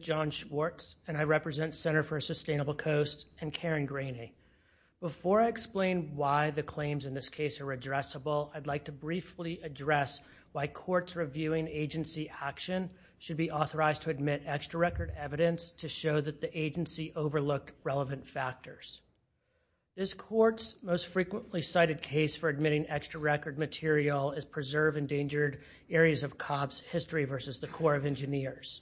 John Schwartz, Center for a Sustainable Coast, and Karen Graney Before I explain why the claims in this case are addressable, I'd like to briefly address why courts reviewing agency action should be authorized to admit extra record evidence to show that the agency overlooked relevant factors. This Court's most frequently cited case for admitting extra record material is Preserve Endangered Areas of COPS History v. the Corps of Engineers,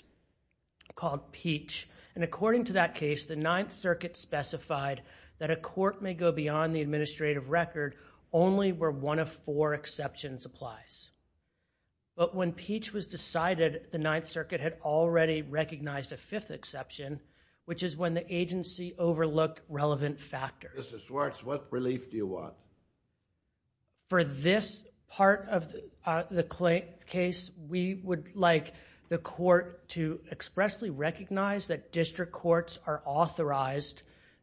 called Peach, and according to that case, the Ninth Circuit specified that a court may go beyond the administrative record only where one of four exceptions applies. But when Peach was decided, the Ninth Circuit had already recognized a fifth exception, which is when the agency overlooked relevant factors. Mr. Schwartz, what relief do you want? For this part of the case, we would like the court to expressly recognize that district courts are authorized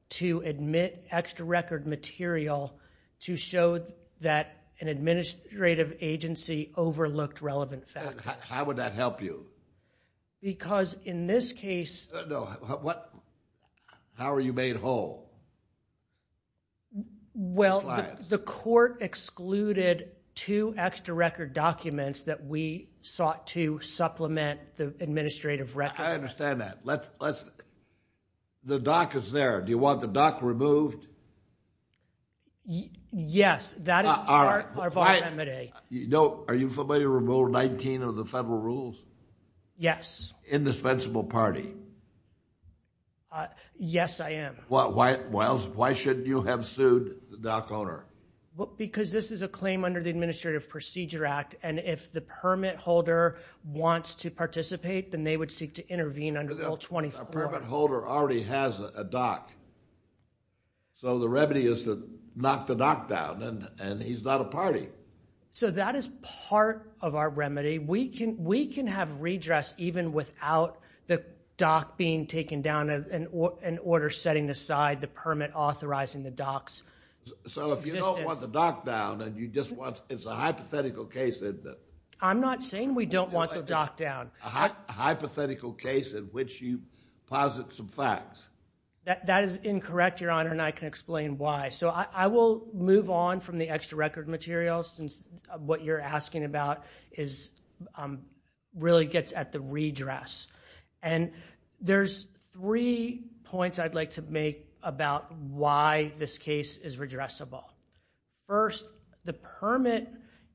to admit extra record material to show that an administrative agency overlooked relevant factors. How would that help you? Because in this case... No, what... How are you made whole? Well, the court excluded two extra record documents that we sought to supplement the administrative record. I understand that. The doc is there. Do you want the doc removed? Yes, that is part of our remedy. Are you familiar with Rule 19 of the federal rules? Yes. Indispensable party. Yes, I am. Why should you have sued the doc owner? Because this is a claim under the Administrative Procedure Act, and if the permit holder wants to participate, then they would seek to intervene under Rule 24. A permit holder already has a doc, so the remedy is to knock the doc down, and he's not a party. So that is part of our remedy. We can have redress even without the doc being taken down, an order setting aside the permit authorizing the doc's existence. So if you don't want the doc down, and you just want... It's a hypothetical case, isn't it? I'm not saying we don't want the doc down. A hypothetical case in which you posit some facts. That is incorrect, Your Honor, and I can explain why. So I will move on from the extra record material, since what you're asking about really gets at the redress. And there's three points I'd like to make about why this case is redressable. First, the permit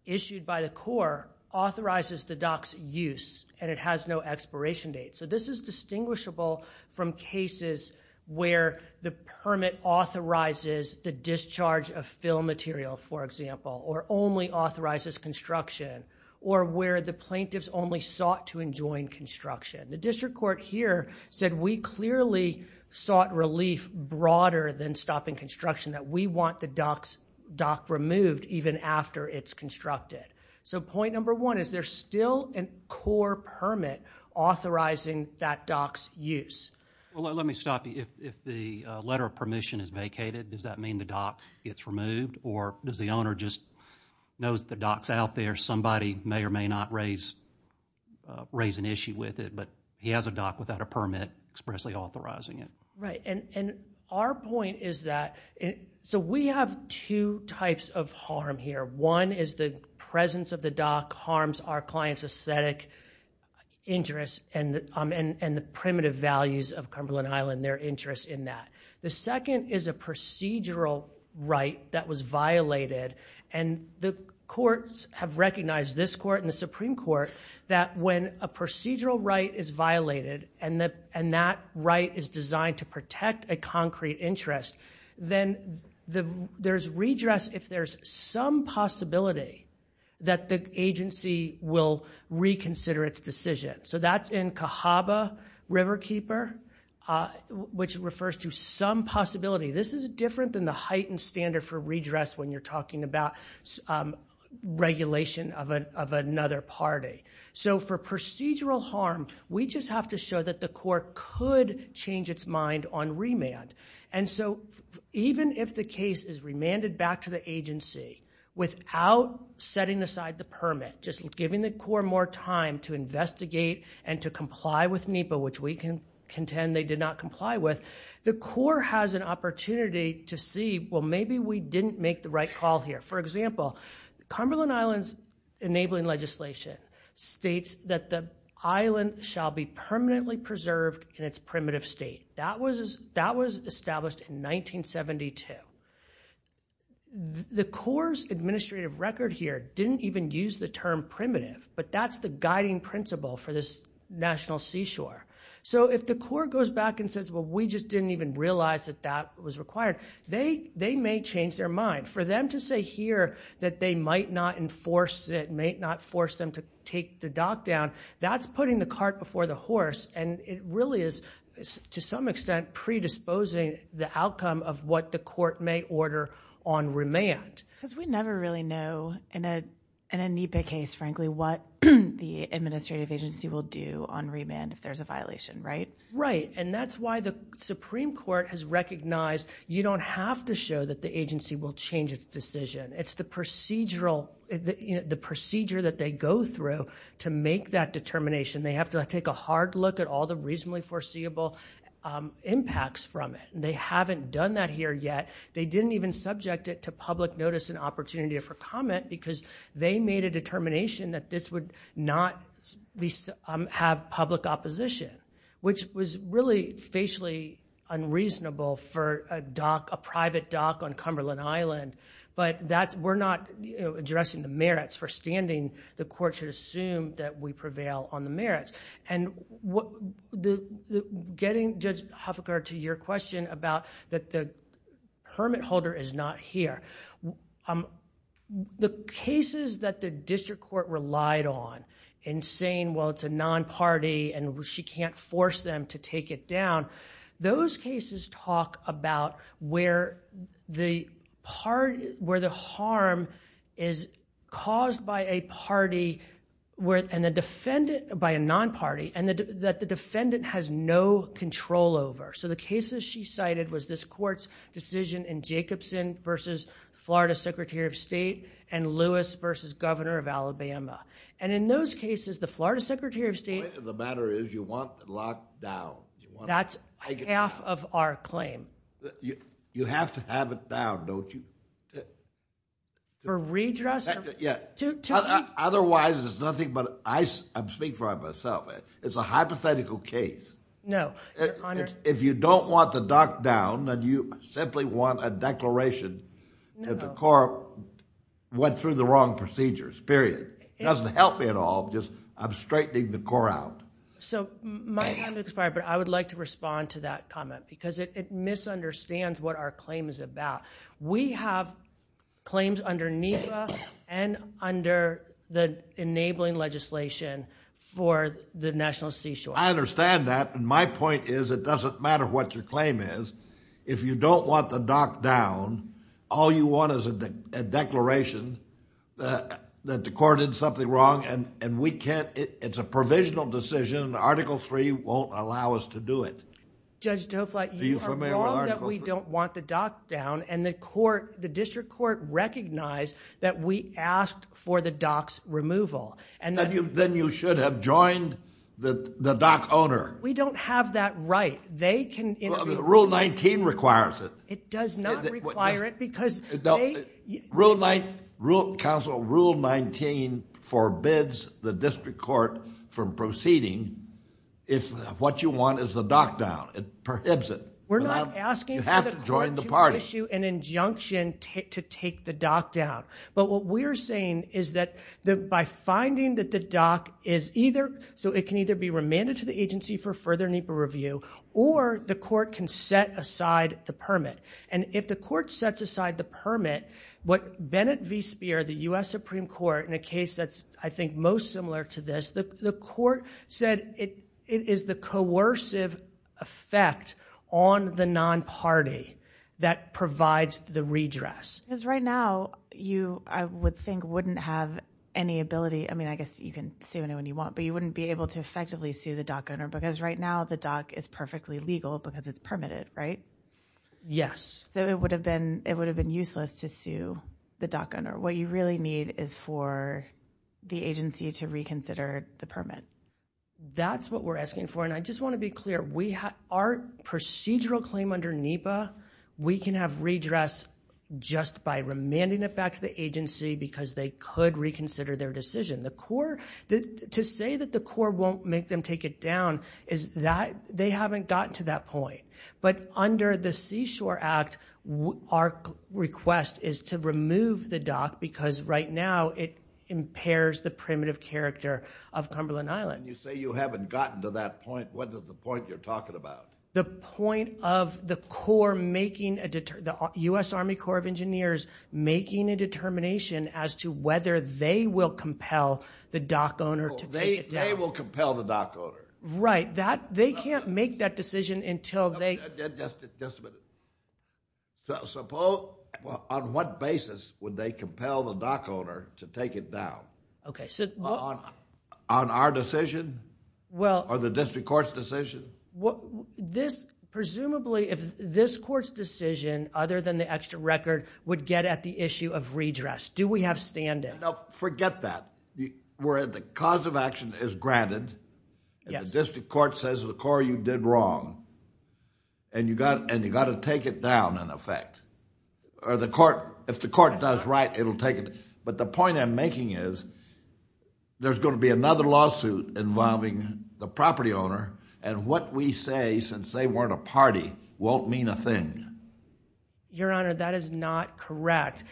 issued by the court authorizes the doc's use, and it has no expiration date. So this is distinguishable from cases where the permit authorizes the discharge of fill material, for example, or only authorizes construction, or where the plaintiffs only sought to enjoin construction. The district court here said we clearly sought relief broader than stopping construction, that we want the doc removed even after it's constructed. So point number one, is there still a core permit authorizing that doc's use? Let me stop you. If the letter of permission is vacated, does that mean the doc gets removed, or does the owner just know that the doc's out there? Somebody may or may not raise an issue with it, but he has a doc without a permit expressly authorizing it. Right. And our point is that... So we have two types of harm here. One is the presence of the doc harms our client's aesthetic interest, and the primitive values of Cumberland Island, their interest in that. The second is a procedural right that was violated, and the courts have recognized, this court and the Supreme Court, that when a procedural right is violated, and that right is designed to protect a concrete interest, then there's redress if there's some possibility that the agency will reconsider its decision. So that's in Cahaba Riverkeeper, which refers to some possibility. This is different than the heightened standard for redress when you're talking about regulation of another party. So for procedural harm, we just have to show that the court could change its mind on remand. And so even if the case is remanded back to the agency without setting aside the permit, just giving the court more time to investigate and to comply with NEPA, which we can contend they did not comply with, the court has an opportunity to see, well, maybe we didn't make the right call here. For example, Cumberland Island's enabling legislation states that the island shall be permanently preserved in its primitive state. That was established in 1972. The court's administrative record here didn't even use the term primitive, but that's the guiding principle for this national seashore. So if the court goes back and says, well, we just didn't even realize that that was required, they may change their mind. For them to say here that they might not enforce it, may not force them to take the dock down, that's putting the cart before the horse. And it really is, to some extent, predisposing the outcome of what the court may order on remand. Because we never really know, in a NEPA case, frankly, what the administrative agency will do on remand if there's a violation, right? Right. And that's why the Supreme Court has recognized you don't have to show that the agency will change its decision. It's the procedural, the procedure that they go through to make that determination. They have to take a hard look at all the reasonably foreseeable impacts from it. They haven't done that here yet. They didn't even subject it to public notice and opportunity for comment because they made a determination that this would not have public opposition. Which was really facially unreasonable for a dock, a private dock on Cumberland Island. But that's, we're not addressing the merits. For standing, the court should assume that we prevail on the merits. And getting, Judge Huffenberg, to your question about that the permit holder is not here. The cases that the district court relied on in saying, well, it's a non-party and she can't force them to take it down. Those cases talk about where the harm is caused by a party, by a non-party, and that the defendant has no control over. So the cases she cited was this court's decision in Jacobson versus Florida Secretary of State and Lewis versus Governor of Alabama. And in those cases, the Florida Secretary of State... Locked up and locked down. That's half of our claim. You have to have it down, don't you? For redress? Yeah. Otherwise, it's nothing but, I'm speaking for myself, it's a hypothetical case. No. Your Honor... If you don't want the dock down, then you simply want a declaration that the court went through the wrong procedures, period. It doesn't help me at all, just I'm straightening the court out. So my time has expired, but I would like to respond to that comment because it misunderstands what our claim is about. We have claims under NEPA and under the enabling legislation for the National Seashore. I understand that, and my point is it doesn't matter what your claim is. If you don't want the dock down, all you want is a declaration that the court did something wrong and we can't... it's a provisional decision and Article III won't allow us to do it. Judge Dofleit, you are wrong that we don't want the dock down and the court, the district court recognized that we asked for the dock's removal. Then you should have joined the dock owner. We don't have that right. They can intervene. Rule 19 requires it. It does not require it because... Rule 19, Council Rule 19 forbids the district court from proceeding if what you want is the dock down. It prohibits it. You have to join the party. We're not asking for the court to issue an injunction to take the dock down, but what we're saying is that by finding that the dock is either... so it can either be remanded to the agency for further NEPA review or the court can set aside the permit. If the court sets aside the permit, what Bennett v. Speer, the U.S. Supreme Court, in a case that's I think most similar to this, the court said it is the coercive effect on the non-party that provides the redress. Right now, you, I would think, wouldn't have any ability... I mean, I guess you can sue anyone you want, but you wouldn't be able to effectively sue the dock owner because right now the dock is perfectly legal because it's permitted, right? Yes. So, it would have been useless to sue the dock owner. What you really need is for the agency to reconsider the permit. That's what we're asking for, and I just want to be clear, our procedural claim under NEPA, we can have redress just by remanding it back to the agency because they could reconsider their decision. The court... to say that the court won't make them take it down is that they haven't gotten to that point. But under the Seashore Act, our request is to remove the dock because right now it impairs the primitive character of Cumberland Island. When you say you haven't gotten to that point, what is the point you're talking about? The point of the Corps making a... the U.S. Army Corps of Engineers making a determination as to whether they will compel the dock owner to take it down. They will compel the dock owner. Right. They can't make that decision until they... Just a minute. Suppose... on what basis would they compel the dock owner to take it down? On our decision or the district court's decision? Presumably if this court's decision, other than the extra record, would get at the issue of redress. Do we have stand-in? No. Forget that. Where the cause of action is granted and the district court says, the Corps, you did wrong and you got to take it down in effect. If the court does right, it'll take it. But the point I'm making is there's going to be another lawsuit involving the property owner and what we say, since they weren't a party, won't mean a thing. Your Honor, that is not correct.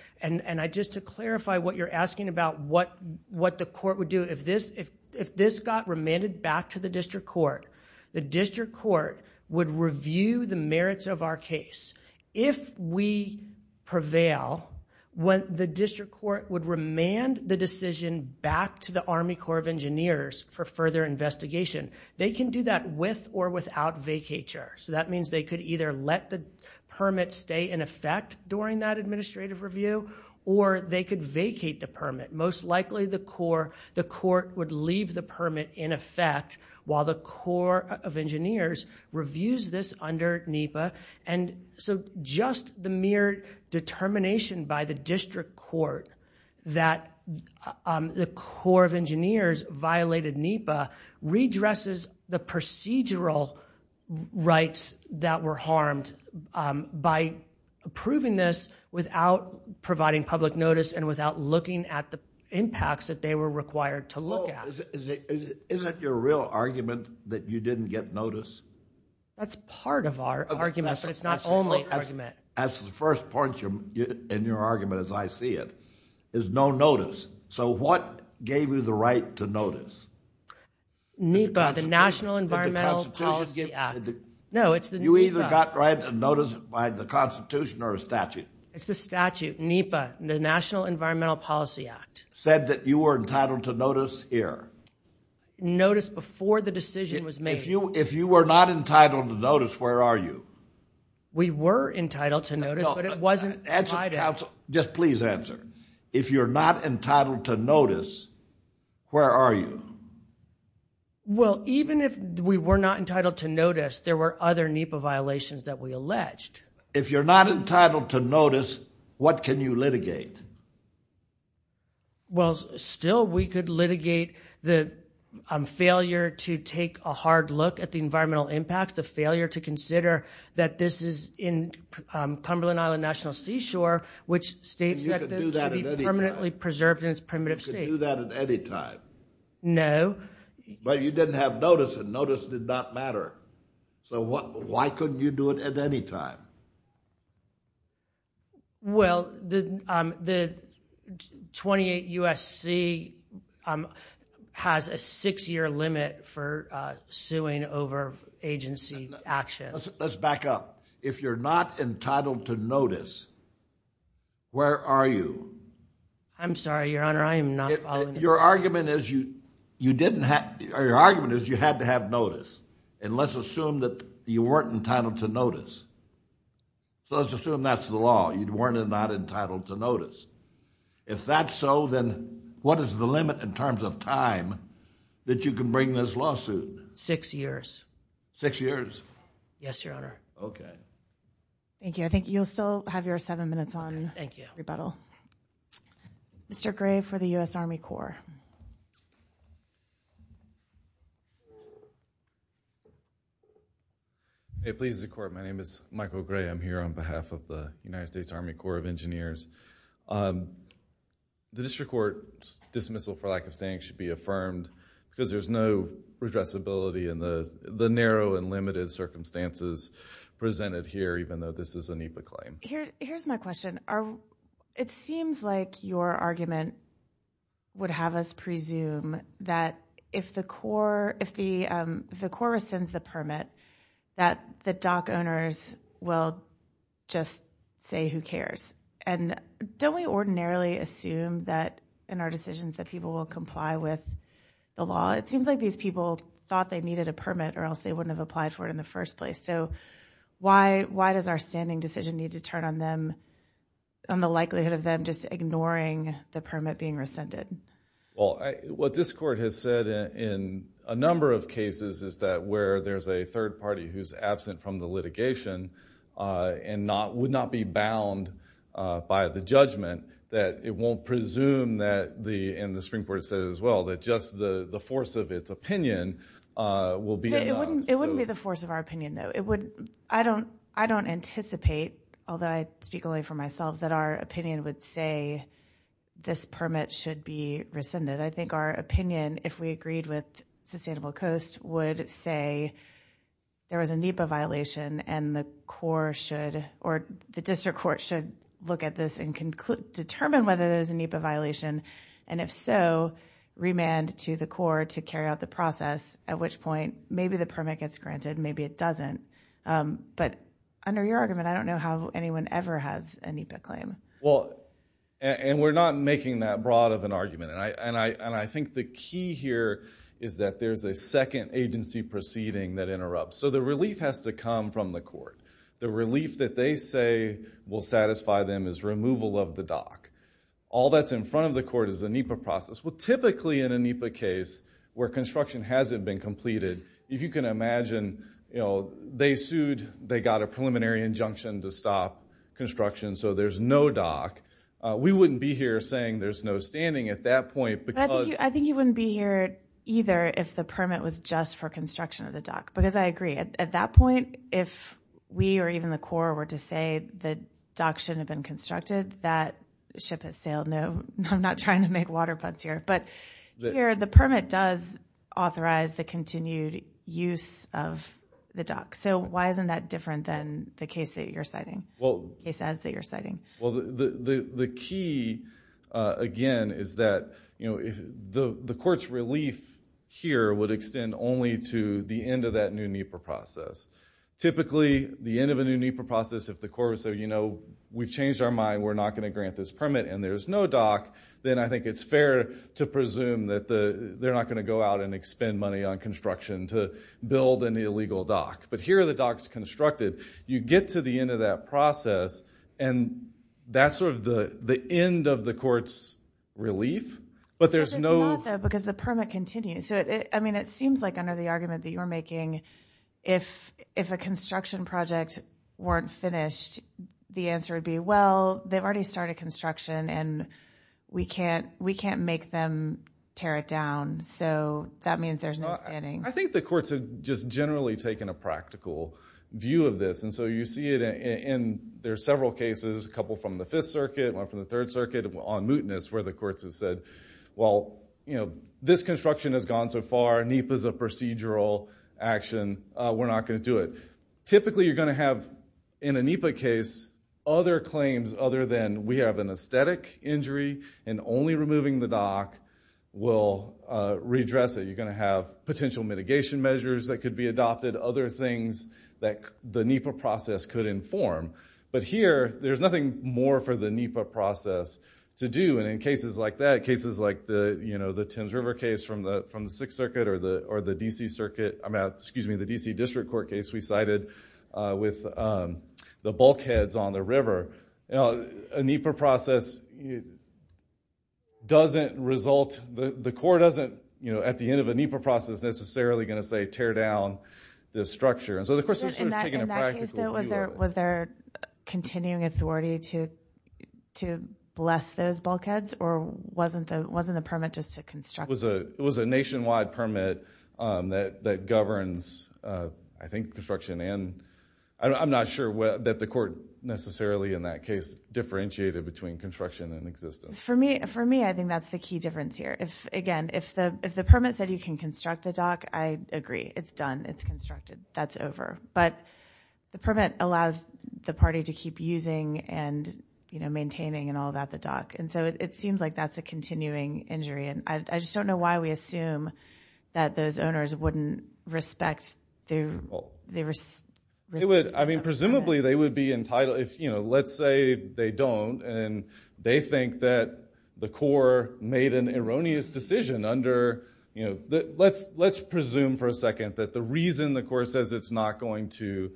Just to clarify what you're asking about what the court would do, if this got remanded back to the district court, the district court would review the merits of our case. If we prevail, when the district court would remand the decision back to the Army Corps of Engineers for further investigation, they can do that with or without vacatur. That means they could either let the permit stay in effect during that administrative review or they could vacate the permit. Most likely the court would leave the permit in effect while the Corps of Engineers reviews this under NEPA. Just the mere determination by the district court that the Corps of Engineers violated NEPA redresses the procedural rights that were harmed by approving this without providing public notice and without looking at the impacts that they were required to look at. Isn't your real argument that you didn't get notice? That's part of our argument, but it's not only an argument. That's the first point in your argument, as I see it, is no notice. So what gave you the right to notice? NEPA, the National Environmental Policy Act. No, it's the NEPA. You either got notice by the Constitution or a statute. It's the statute, NEPA, the National Environmental Policy Act. Said that you were entitled to notice here. Notice before the decision was made. If you were not entitled to notice, where are you? We were entitled to notice, but it wasn't provided. Just please answer. If you're not entitled to notice, where are you? Well, even if we were not entitled to notice, there were other NEPA violations that we alleged. If you're not entitled to notice, what can you litigate? Well, still we could litigate the failure to take a hard look at the environmental impact, the failure to consider that this is in Cumberland Island National Seashore, which states that- You could do that at any time.... to be permanently preserved in its primitive state. You could do that at any time. No. But you didn't have notice, and notice did not matter. So why couldn't you do it at any time? Well, the 28 U.S.C. has a six-year limit for suing over agency action. Let's back up. If you're not entitled to notice, where are you? I'm sorry, Your Honor, I am not following- Your argument is you had to have notice, and let's assume that you weren't entitled to notice. So let's assume that's the law, you weren't not entitled to notice. If that's so, then what is the limit in terms of time that you can bring this lawsuit? Six years. Six years? Yes, Your Honor. Okay. Thank you. I think you'll still have your seven minutes on rebuttal. Okay, thank you. Mr. Gray for the U.S. Army Corps. It pleases the Court. My name is Michael Gray. I'm here on behalf of the United States Army Corps of Engineers. The district court dismissal, for lack of saying, should be affirmed because there's no redressability in the narrow and limited circumstances presented here, even though this is a NEPA claim. Here's my question. It seems like your argument would have us presume that if the Corps rescinds the permit, that the dock owners will just say, who cares? Don't we ordinarily assume that in our decisions that people will comply with the law? It seems like these people thought they needed a permit or else they wouldn't have applied for it in the first place. Why does our standing decision need to turn on the likelihood of them just ignoring the permit being rescinded? What this court has said in a number of cases is that where there's a third party who's absent from the litigation and would not be bound by the judgment, that it won't presume, and the Supreme Court said it as well, that just the force of its opinion will be enough. It wouldn't be the force of our opinion, though. I don't anticipate, although I speak only for myself, that our opinion would say this permit should be rescinded. I think our opinion, if we agreed with Sustainable Coast, would say there was a NEPA violation and the District Court should look at this and determine whether there's a NEPA violation, and if so, remand to the Corps to carry out the process, at which point maybe the permit gets granted, maybe it doesn't. But under your argument, I don't know how anyone ever has a NEPA claim. We're not making that broad of an argument. I think the key here is that there's a second agency proceeding that interrupts. So the relief has to come from the court. The relief that they say will satisfy them is removal of the dock. All that's in front of the court is a NEPA process. Well, typically in a NEPA case where construction hasn't been completed, if you can imagine they sued, they got a preliminary injunction to stop construction, so there's no dock. We wouldn't be here saying there's no standing at that point because— At that point, if we or even the Corps were to say the dock shouldn't have been constructed, that ship has sailed. I'm not trying to make water puns here, but here the permit does authorize the continued use of the dock. So why isn't that different than the case that you're citing, the case as that you're citing? The key, again, is that the court's relief here would extend only to the end of that new NEPA process. Typically, the end of a new NEPA process, if the Corps would say, we've changed our mind, we're not going to grant this permit and there's no dock, then I think it's fair to presume that they're not going to go out and expend money on construction to build an illegal dock. But here the dock's constructed. You get to the end of that process, and that's sort of the end of the court's relief, but there's no— It's not, though, because the permit continues. I mean, it seems like under the argument that you're making, if a construction project weren't finished, the answer would be, well, they've already started construction and we can't make them tear it down, so that means there's no standing. I think the courts have just generally taken a practical view of this. And so you see it in several cases, a couple from the Fifth Circuit, one from the Third Circuit, on mootness, where the courts have said, well, this construction has gone so far, NEPA's a procedural action, we're not going to do it. Typically you're going to have, in a NEPA case, other claims other than we have an aesthetic injury and only removing the dock will redress it. You're going to have potential mitigation measures that could be adopted, other things that the NEPA process could inform. But here, there's nothing more for the NEPA process to do. And in cases like that, cases like the Thames River case from the Sixth Circuit or the D.C. Circuit— excuse me, the D.C. District Court case we cited with the bulkheads on the river, a NEPA process doesn't result—the court isn't, at the end of a NEPA process, necessarily going to say tear down this structure. And so the question is sort of taking a practical view of it. In that case, though, was there continuing authority to bless those bulkheads? Or wasn't the permit just to construct? It was a nationwide permit that governs, I think, construction. I'm not sure that the court necessarily, in that case, differentiated between construction and existence. For me, I think that's the key difference here. Again, if the permit said you can construct the dock, I agree. It's done. It's constructed. That's over. But the permit allows the party to keep using and maintaining and all that the dock. And so it seems like that's a continuing injury. And I just don't know why we assume that those owners wouldn't respect the— I mean, presumably they would be entitled—let's say they don't, and they think that the court made an erroneous decision under— let's presume for a second that the reason the court says it's not going to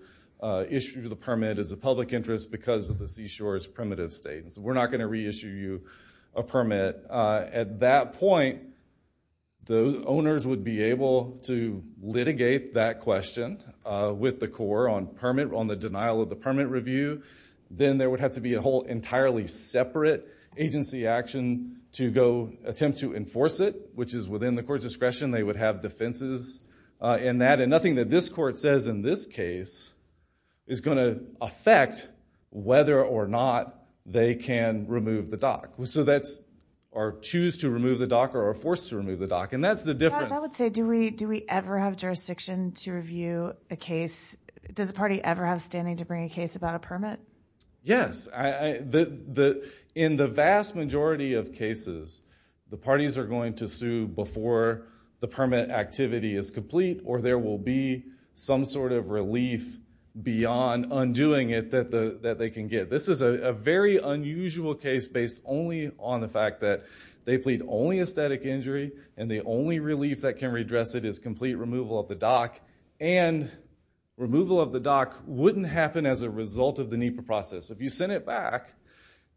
issue the permit is a public interest because of the seashore's primitive state. So we're not going to reissue you a permit. But at that point, the owners would be able to litigate that question with the court on the denial of the permit review. Then there would have to be a whole entirely separate agency action to go attempt to enforce it, which is within the court's discretion. They would have defenses in that. And nothing that this court says in this case is going to affect whether or not they can remove the dock. So that's—or choose to remove the dock or are forced to remove the dock. And that's the difference. Yeah, I would say, do we ever have jurisdiction to review a case? Does a party ever have standing to bring a case about a permit? Yes. In the vast majority of cases, the parties are going to sue before the permit activity is complete or there will be some sort of relief beyond undoing it that they can get. This is a very unusual case based only on the fact that they plead only a static injury and the only relief that can redress it is complete removal of the dock. And removal of the dock wouldn't happen as a result of the NEPA process. If you sent it back,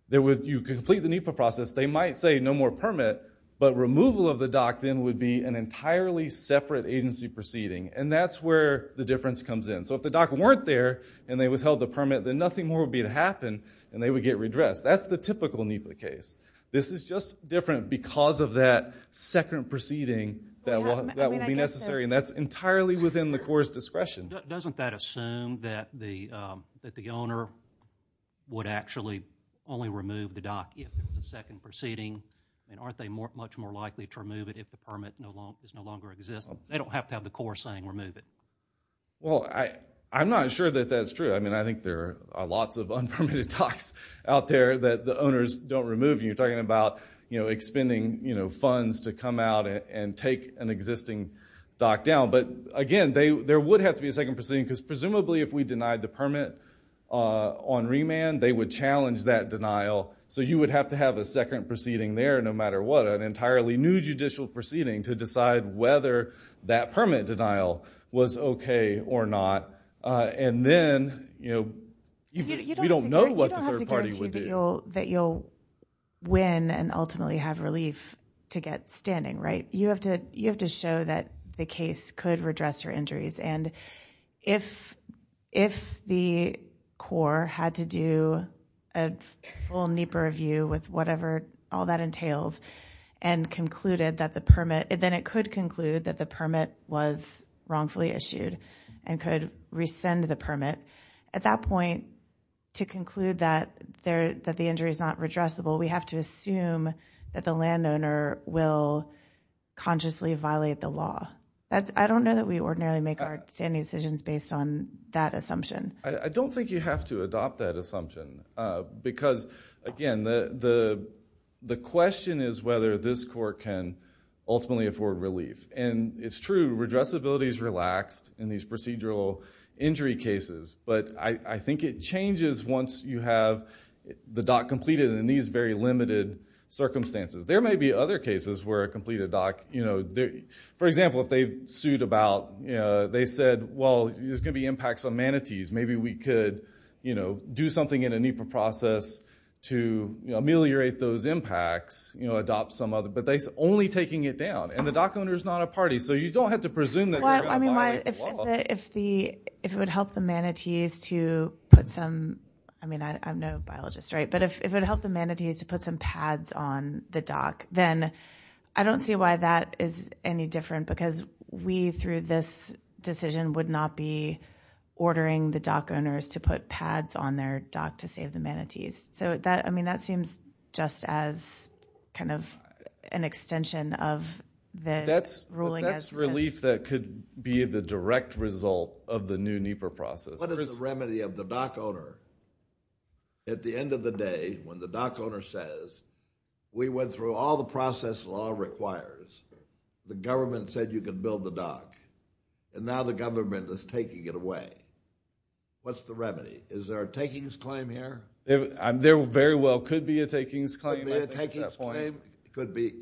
you complete the NEPA process, they might say no more permit. But removal of the dock then would be an entirely separate agency proceeding. And that's where the difference comes in. So if the dock weren't there and they withheld the permit, then nothing more would be to happen and they would get redressed. That's the typical NEPA case. This is just different because of that second proceeding that would be necessary. And that's entirely within the Corps' discretion. Doesn't that assume that the owner would actually only remove the dock if it's a second proceeding? And aren't they much more likely to remove it if the permit no longer exists? They don't have to have the Corps saying remove it. Well, I'm not sure that that's true. I think there are lots of unpermitted docks out there that the owners don't remove. You're talking about expending funds to come out and take an existing dock down. But, again, there would have to be a second proceeding because presumably if we denied the permit on remand, they would challenge that denial. So you would have to have a second proceeding there no matter what, an entirely new judicial proceeding to decide whether that permit denial was okay or not. And then, you know, we don't know what the third party would do. You don't have to guarantee that you'll win and ultimately have relief to get standing, right? You have to show that the case could redress your injuries. And if the Corps had to do a full NEPA review with whatever all that entails and concluded that the permit—then it could conclude that the permit was wrongfully issued and could rescind the permit, at that point, to conclude that the injury is not redressable, we have to assume that the landowner will consciously violate the law. I don't know that we ordinarily make our standing decisions based on that assumption. I don't think you have to adopt that assumption because, again, the question is whether this Court can ultimately afford relief. And it's true, redressability is relaxed in these procedural injury cases. But I think it changes once you have the dock completed in these very limited circumstances. There may be other cases where a completed dock, you know— for example, if they sued about—they said, well, there's going to be impacts on manatees. Maybe we could do something in a NEPA process to ameliorate those impacts, adopt some other— but they're only taking it down, and the dock owner is not a party. So you don't have to presume that they're going to violate the law. If it would help the manatees to put some—I mean, I'm no biologist, right? But if it would help the manatees to put some pads on the dock, then I don't see why that is any different because we, through this decision, would not be ordering the dock owners to put pads on their dock to save the manatees. So, I mean, that seems just as kind of an extension of the ruling as— But that's relief that could be the direct result of the new NEPA process. What is the remedy of the dock owner? At the end of the day, when the dock owner says, we went through all the process the law requires, the government said you can build the dock, and now the government is taking it away. What's the remedy? Is there a takings claim here? There very well could be a takings claim. Could be a takings claim. Could be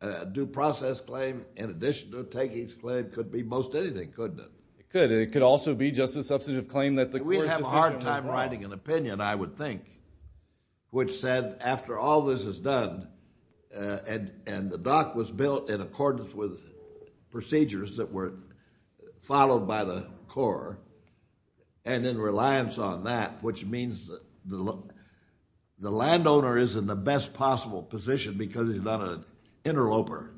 a due process claim in addition to a takings claim. Could be most anything, couldn't it? It could, and it could also be just a substantive claim that the court's decision was wrong. It's providing an opinion, I would think, which said after all this is done, and the dock was built in accordance with procedures that were followed by the Corps, and in reliance on that, which means the landowner is in the best possible position because he's not an interloper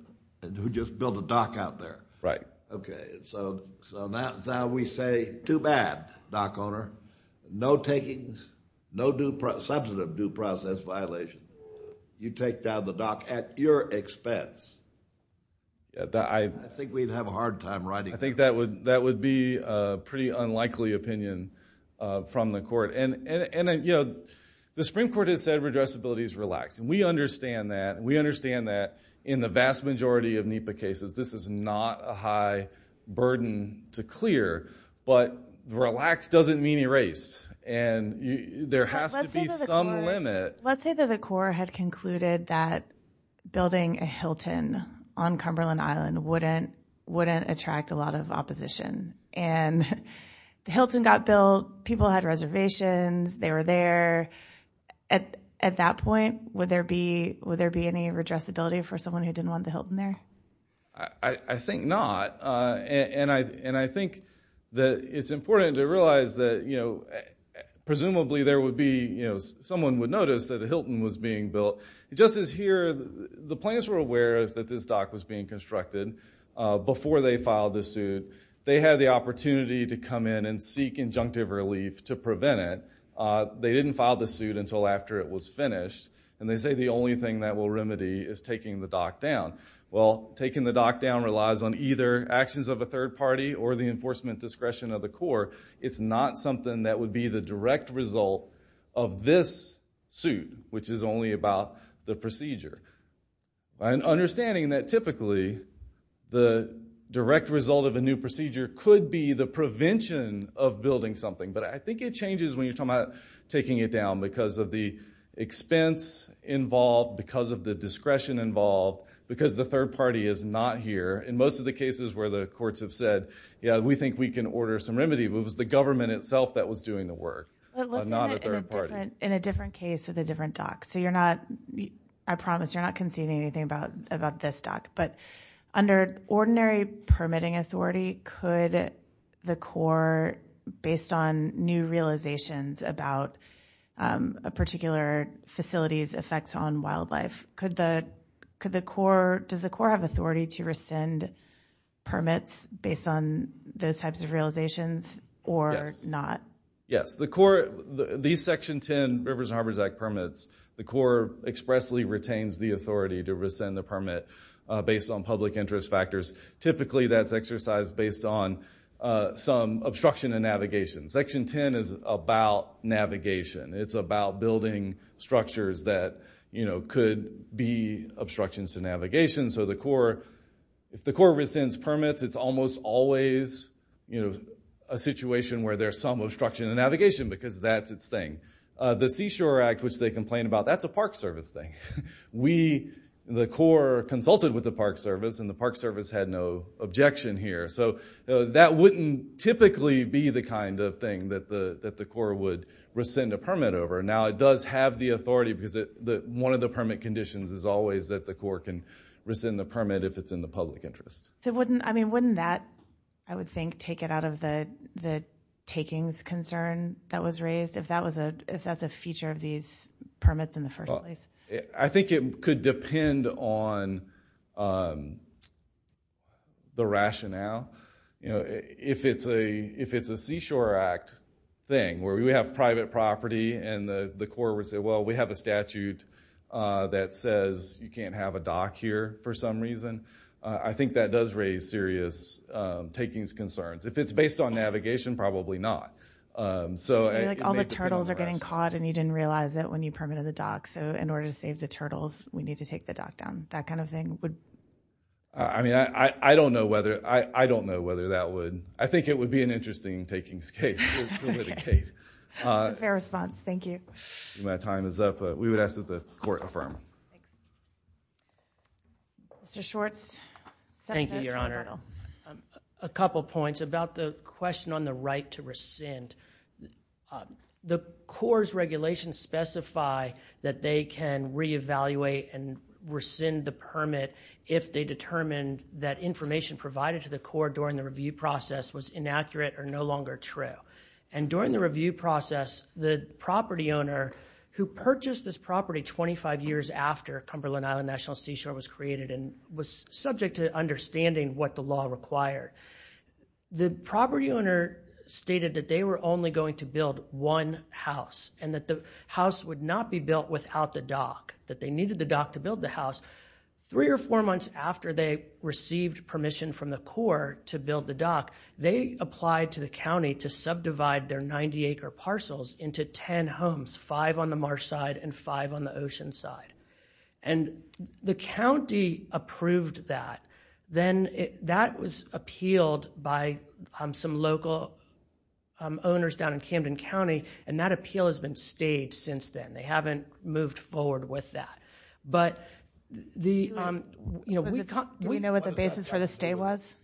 who just built a dock out there. Right. Okay, so now we say too bad, dock owner. No takings, no substantive due process violation. You take down the dock at your expense. I think we'd have a hard time writing that. I think that would be a pretty unlikely opinion from the court. And, you know, the Supreme Court has said redressability is relaxed, and we understand that. In the vast majority of NEPA cases, this is not a high burden to clear, but relaxed doesn't mean erased, and there has to be some limit. Let's say that the Corps had concluded that building a Hilton on Cumberland Island wouldn't attract a lot of opposition, and the Hilton got built, people had reservations, they were there. At that point, would there be any redressability for someone who didn't want the Hilton there? I think not, and I think that it's important to realize that, you know, presumably someone would notice that a Hilton was being built. Just as here, the plaintiffs were aware that this dock was being constructed before they filed the suit. They had the opportunity to come in and seek injunctive relief to prevent it. They didn't file the suit until after it was finished, and they say the only thing that will remedy is taking the dock down. Well, taking the dock down relies on either actions of a third party or the enforcement discretion of the Corps. It's not something that would be the direct result of this suit, which is only about the procedure. Understanding that typically the direct result of a new procedure could be the prevention of building something, but I think it changes when you're talking about taking it down because of the expense involved, because of the discretion involved, because the third party is not here. In most of the cases where the courts have said, yeah, we think we can order some remedy, but it was the government itself that was doing the work, not a third party. In a different case with a different dock. So I promise you're not conceding anything about this dock, but under ordinary permitting authority, could the Corps, based on new realizations about a particular facility's effects on wildlife, does the Corps have authority to rescind permits based on those types of realizations or not? Yes. These Section 10 Rivers and Harbors Act permits, the Corps expressly retains the authority to rescind the permit based on public interest factors. Typically that's exercised based on some obstruction of navigation. Section 10 is about navigation. It's about building structures that could be obstructions to navigation. So if the Corps rescinds permits, it's almost always a situation where there's some obstruction of navigation because that's its thing. The Seashore Act, which they complain about, that's a Park Service thing. The Corps consulted with the Park Service, and the Park Service had no objection here. So that wouldn't typically be the kind of thing that the Corps would rescind a permit over. Now it does have the authority because one of the permit conditions is always that the Corps can rescind the permit if it's in the public interest. So wouldn't that, I would think, take it out of the takings concern that was raised, if that's a feature of these permits in the first place? I think it could depend on the rationale. If it's a Seashore Act thing where we have private property and the Corps would say, well, we have a statute that says you can't have a dock here for some reason, I think that does raise serious takings concerns. If it's based on navigation, probably not. All the turtles are getting caught, and you didn't realize it when you permitted the dock. So in order to save the turtles, we need to take the dock down. That kind of thing. I don't know whether that would. I think it would be an interesting takings case. Fair response. Thank you. My time is up, but we would ask that the Court affirm. Mr. Schwartz. Thank you, Your Honor. A couple points about the question on the right to rescind. The Corps' regulations specify that they can re-evaluate and rescind the permit if they determine that information provided to the Corps during the review process was inaccurate or no longer true. And during the review process, the property owner who purchased this property 25 years after Cumberland Island National Seashore was created and was subject to understanding what the law required, the property owner stated that they were only going to build one house and that the house would not be built without the dock, that they needed the dock to build the house. Three or four months after they received permission from the Corps to build the dock, they applied to the county to subdivide their 90-acre parcels into ten homes, five on the marsh side and five on the ocean side. And the county approved that. Then that was appealed by some local owners down in Camden County, and that appeal has been stayed since then. They haven't moved forward with that. But the... Do we know what the basis for the stay was?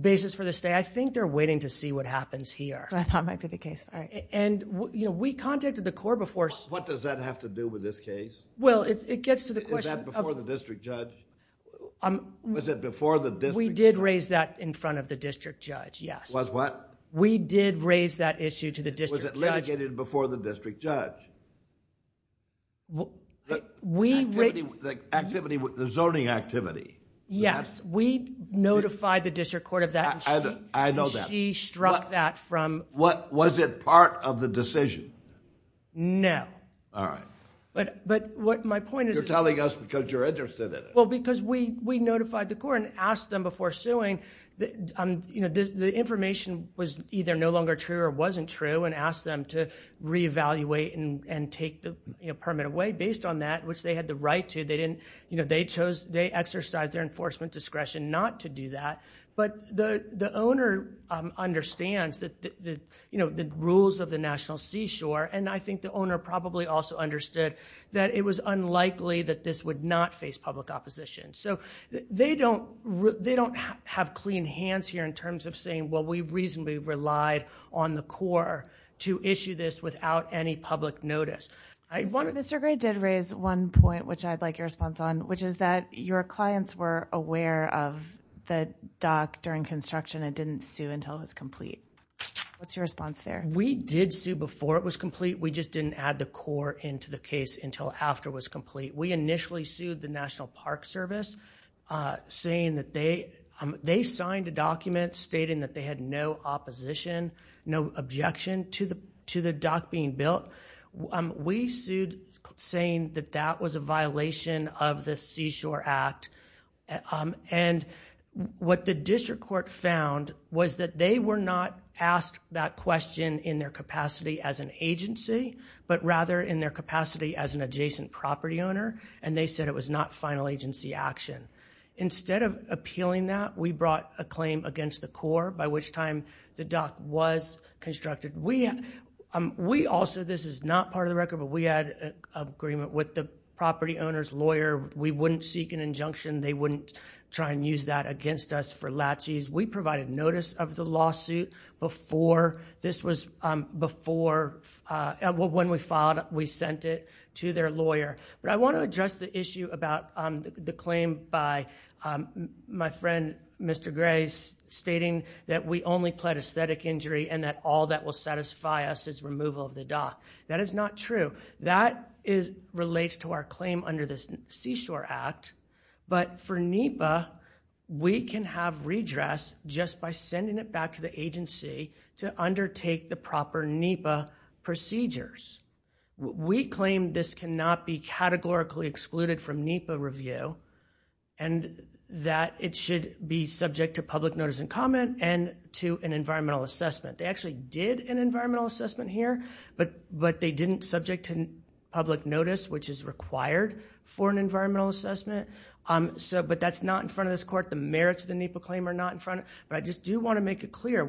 Basis for the stay? I think they're waiting to see what happens here. That's what I thought might be the case. All right. We contacted the Corps before... What does that have to do with this case? Well, it gets to the question... Is that before the district judge? Was it before the district judge? We did raise that in front of the district judge, yes. Was what? We did raise that issue to the district judge. Was it litigated before the district judge? The zoning activity? Yes. We notified the district court of that. I know that. She struck that from... Was it part of the decision? No. All right. But my point is... You're telling us because you're interested in it. Well, because we notified the Corps and asked them before suing. The information was either no longer true or wasn't true, and asked them to reevaluate and take the permit away based on that, which they had the right to. They exercised their enforcement discretion not to do that. But the owner understands the rules of the National Seashore, and I think the owner probably also understood that it was unlikely that this would not face public opposition. So they don't have clean hands here in terms of saying, well, we reasonably relied on the Corps to issue this without any public notice. Mr. Gray did raise one point, which I'd like your response on, which is that your clients were aware of the dock during construction and didn't sue until it was complete. What's your response there? We did sue before it was complete. We just didn't add the Corps into the case until after it was complete. We initially sued the National Park Service, saying that they... They signed a document stating that they had no opposition, no objection to the dock being built. We sued saying that that was a violation of the Seashore Act. What the district court found was that they were not asked that question in their capacity as an agency, but rather in their capacity as an adjacent property owner, and they said it was not final agency action. Instead of appealing that, we brought a claim against the Corps, by which time the dock was constructed. We also... This is not part of the record, but we had an agreement with the property owner's lawyer. We wouldn't seek an injunction. They wouldn't try and use that against us for latches. We provided notice of the lawsuit before this was... When we filed it, we sent it to their lawyer. I want to address the issue about the claim by my friend, Mr. Gray, stating that we only pled aesthetic injury and that all that will satisfy us is removal of the dock. That is not true. That relates to our claim under this Seashore Act, but for NEPA, we can have redress just by sending it back to the agency to undertake the proper NEPA procedures. We claim this cannot be categorically excluded from NEPA review and that it should be subject to public notice and comment and to an environmental assessment. They actually did an environmental assessment here, but they didn't subject to public notice, which is required for an environmental assessment. But that's not in front of this Court. The merits of the NEPA claim are not in front of... But I just do want to make it clear.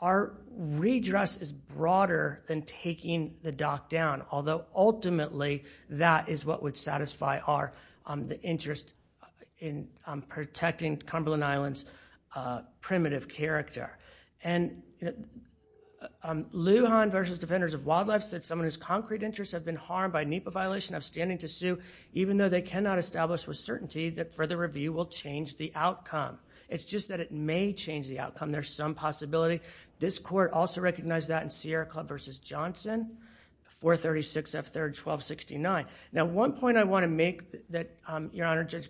Our redress is broader than taking the dock down, although ultimately that is what would satisfy our interest in protecting Cumberland Island's primitive character. Lujan v. Defenders of Wildlife said, someone whose concrete interests have been harmed by a NEPA violation of standing to sue, even though they cannot establish with certainty that further review will change the outcome. It's just that it may change the outcome. There's some possibility. This Court also recognized that in Sierra Club v. Johnson, 436 F. 3rd 1269. Now, one point I want to make that, Your Honor, Judge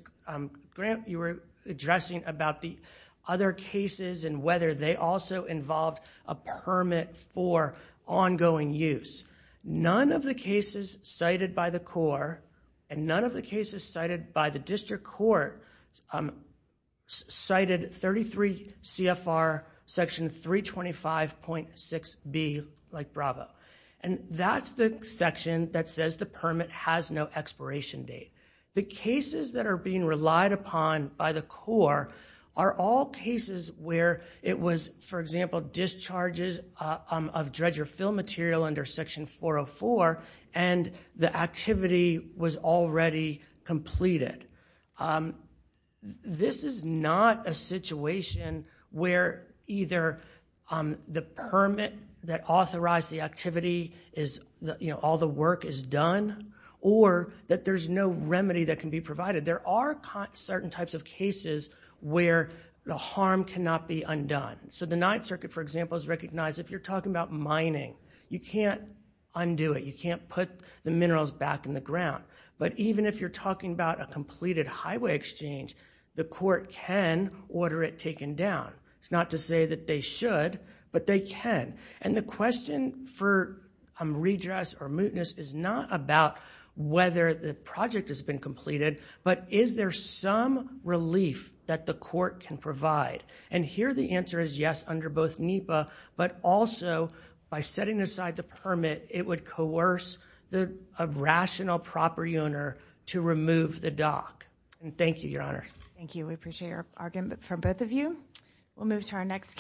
Grant, you were addressing about the other cases and whether they also involved a permit for ongoing use. None of the cases cited by the Court and none of the cases cited by the District Court cited 33 CFR Section 325.6b, like Bravo. And that's the section that says the permit has no expiration date. The cases that are being relied upon by the Court are all cases where it was, for example, discharges of dredger fill material under Section 404 and the activity was already completed. This is not a situation where either the permit that authorized the activity is all the work is done or that there's no remedy that can be provided. There are certain types of cases where the harm cannot be undone. So the Ninth Circuit, for example, has recognized if you're talking about mining, you can't undo it. You can't put the minerals back in the ground. But even if you're talking about a completed highway exchange, the Court can order it taken down. It's not to say that they should, but they can. And the question for redress or mootness is not about whether the project has been completed, but is there some relief that the Court can provide? And here the answer is yes under both NEPA, but also by setting aside the permit, it would coerce a rational, proper owner to remove the dock. And thank you, Your Honor. Thank you. We appreciate your argument from both of you. We'll move to our next case.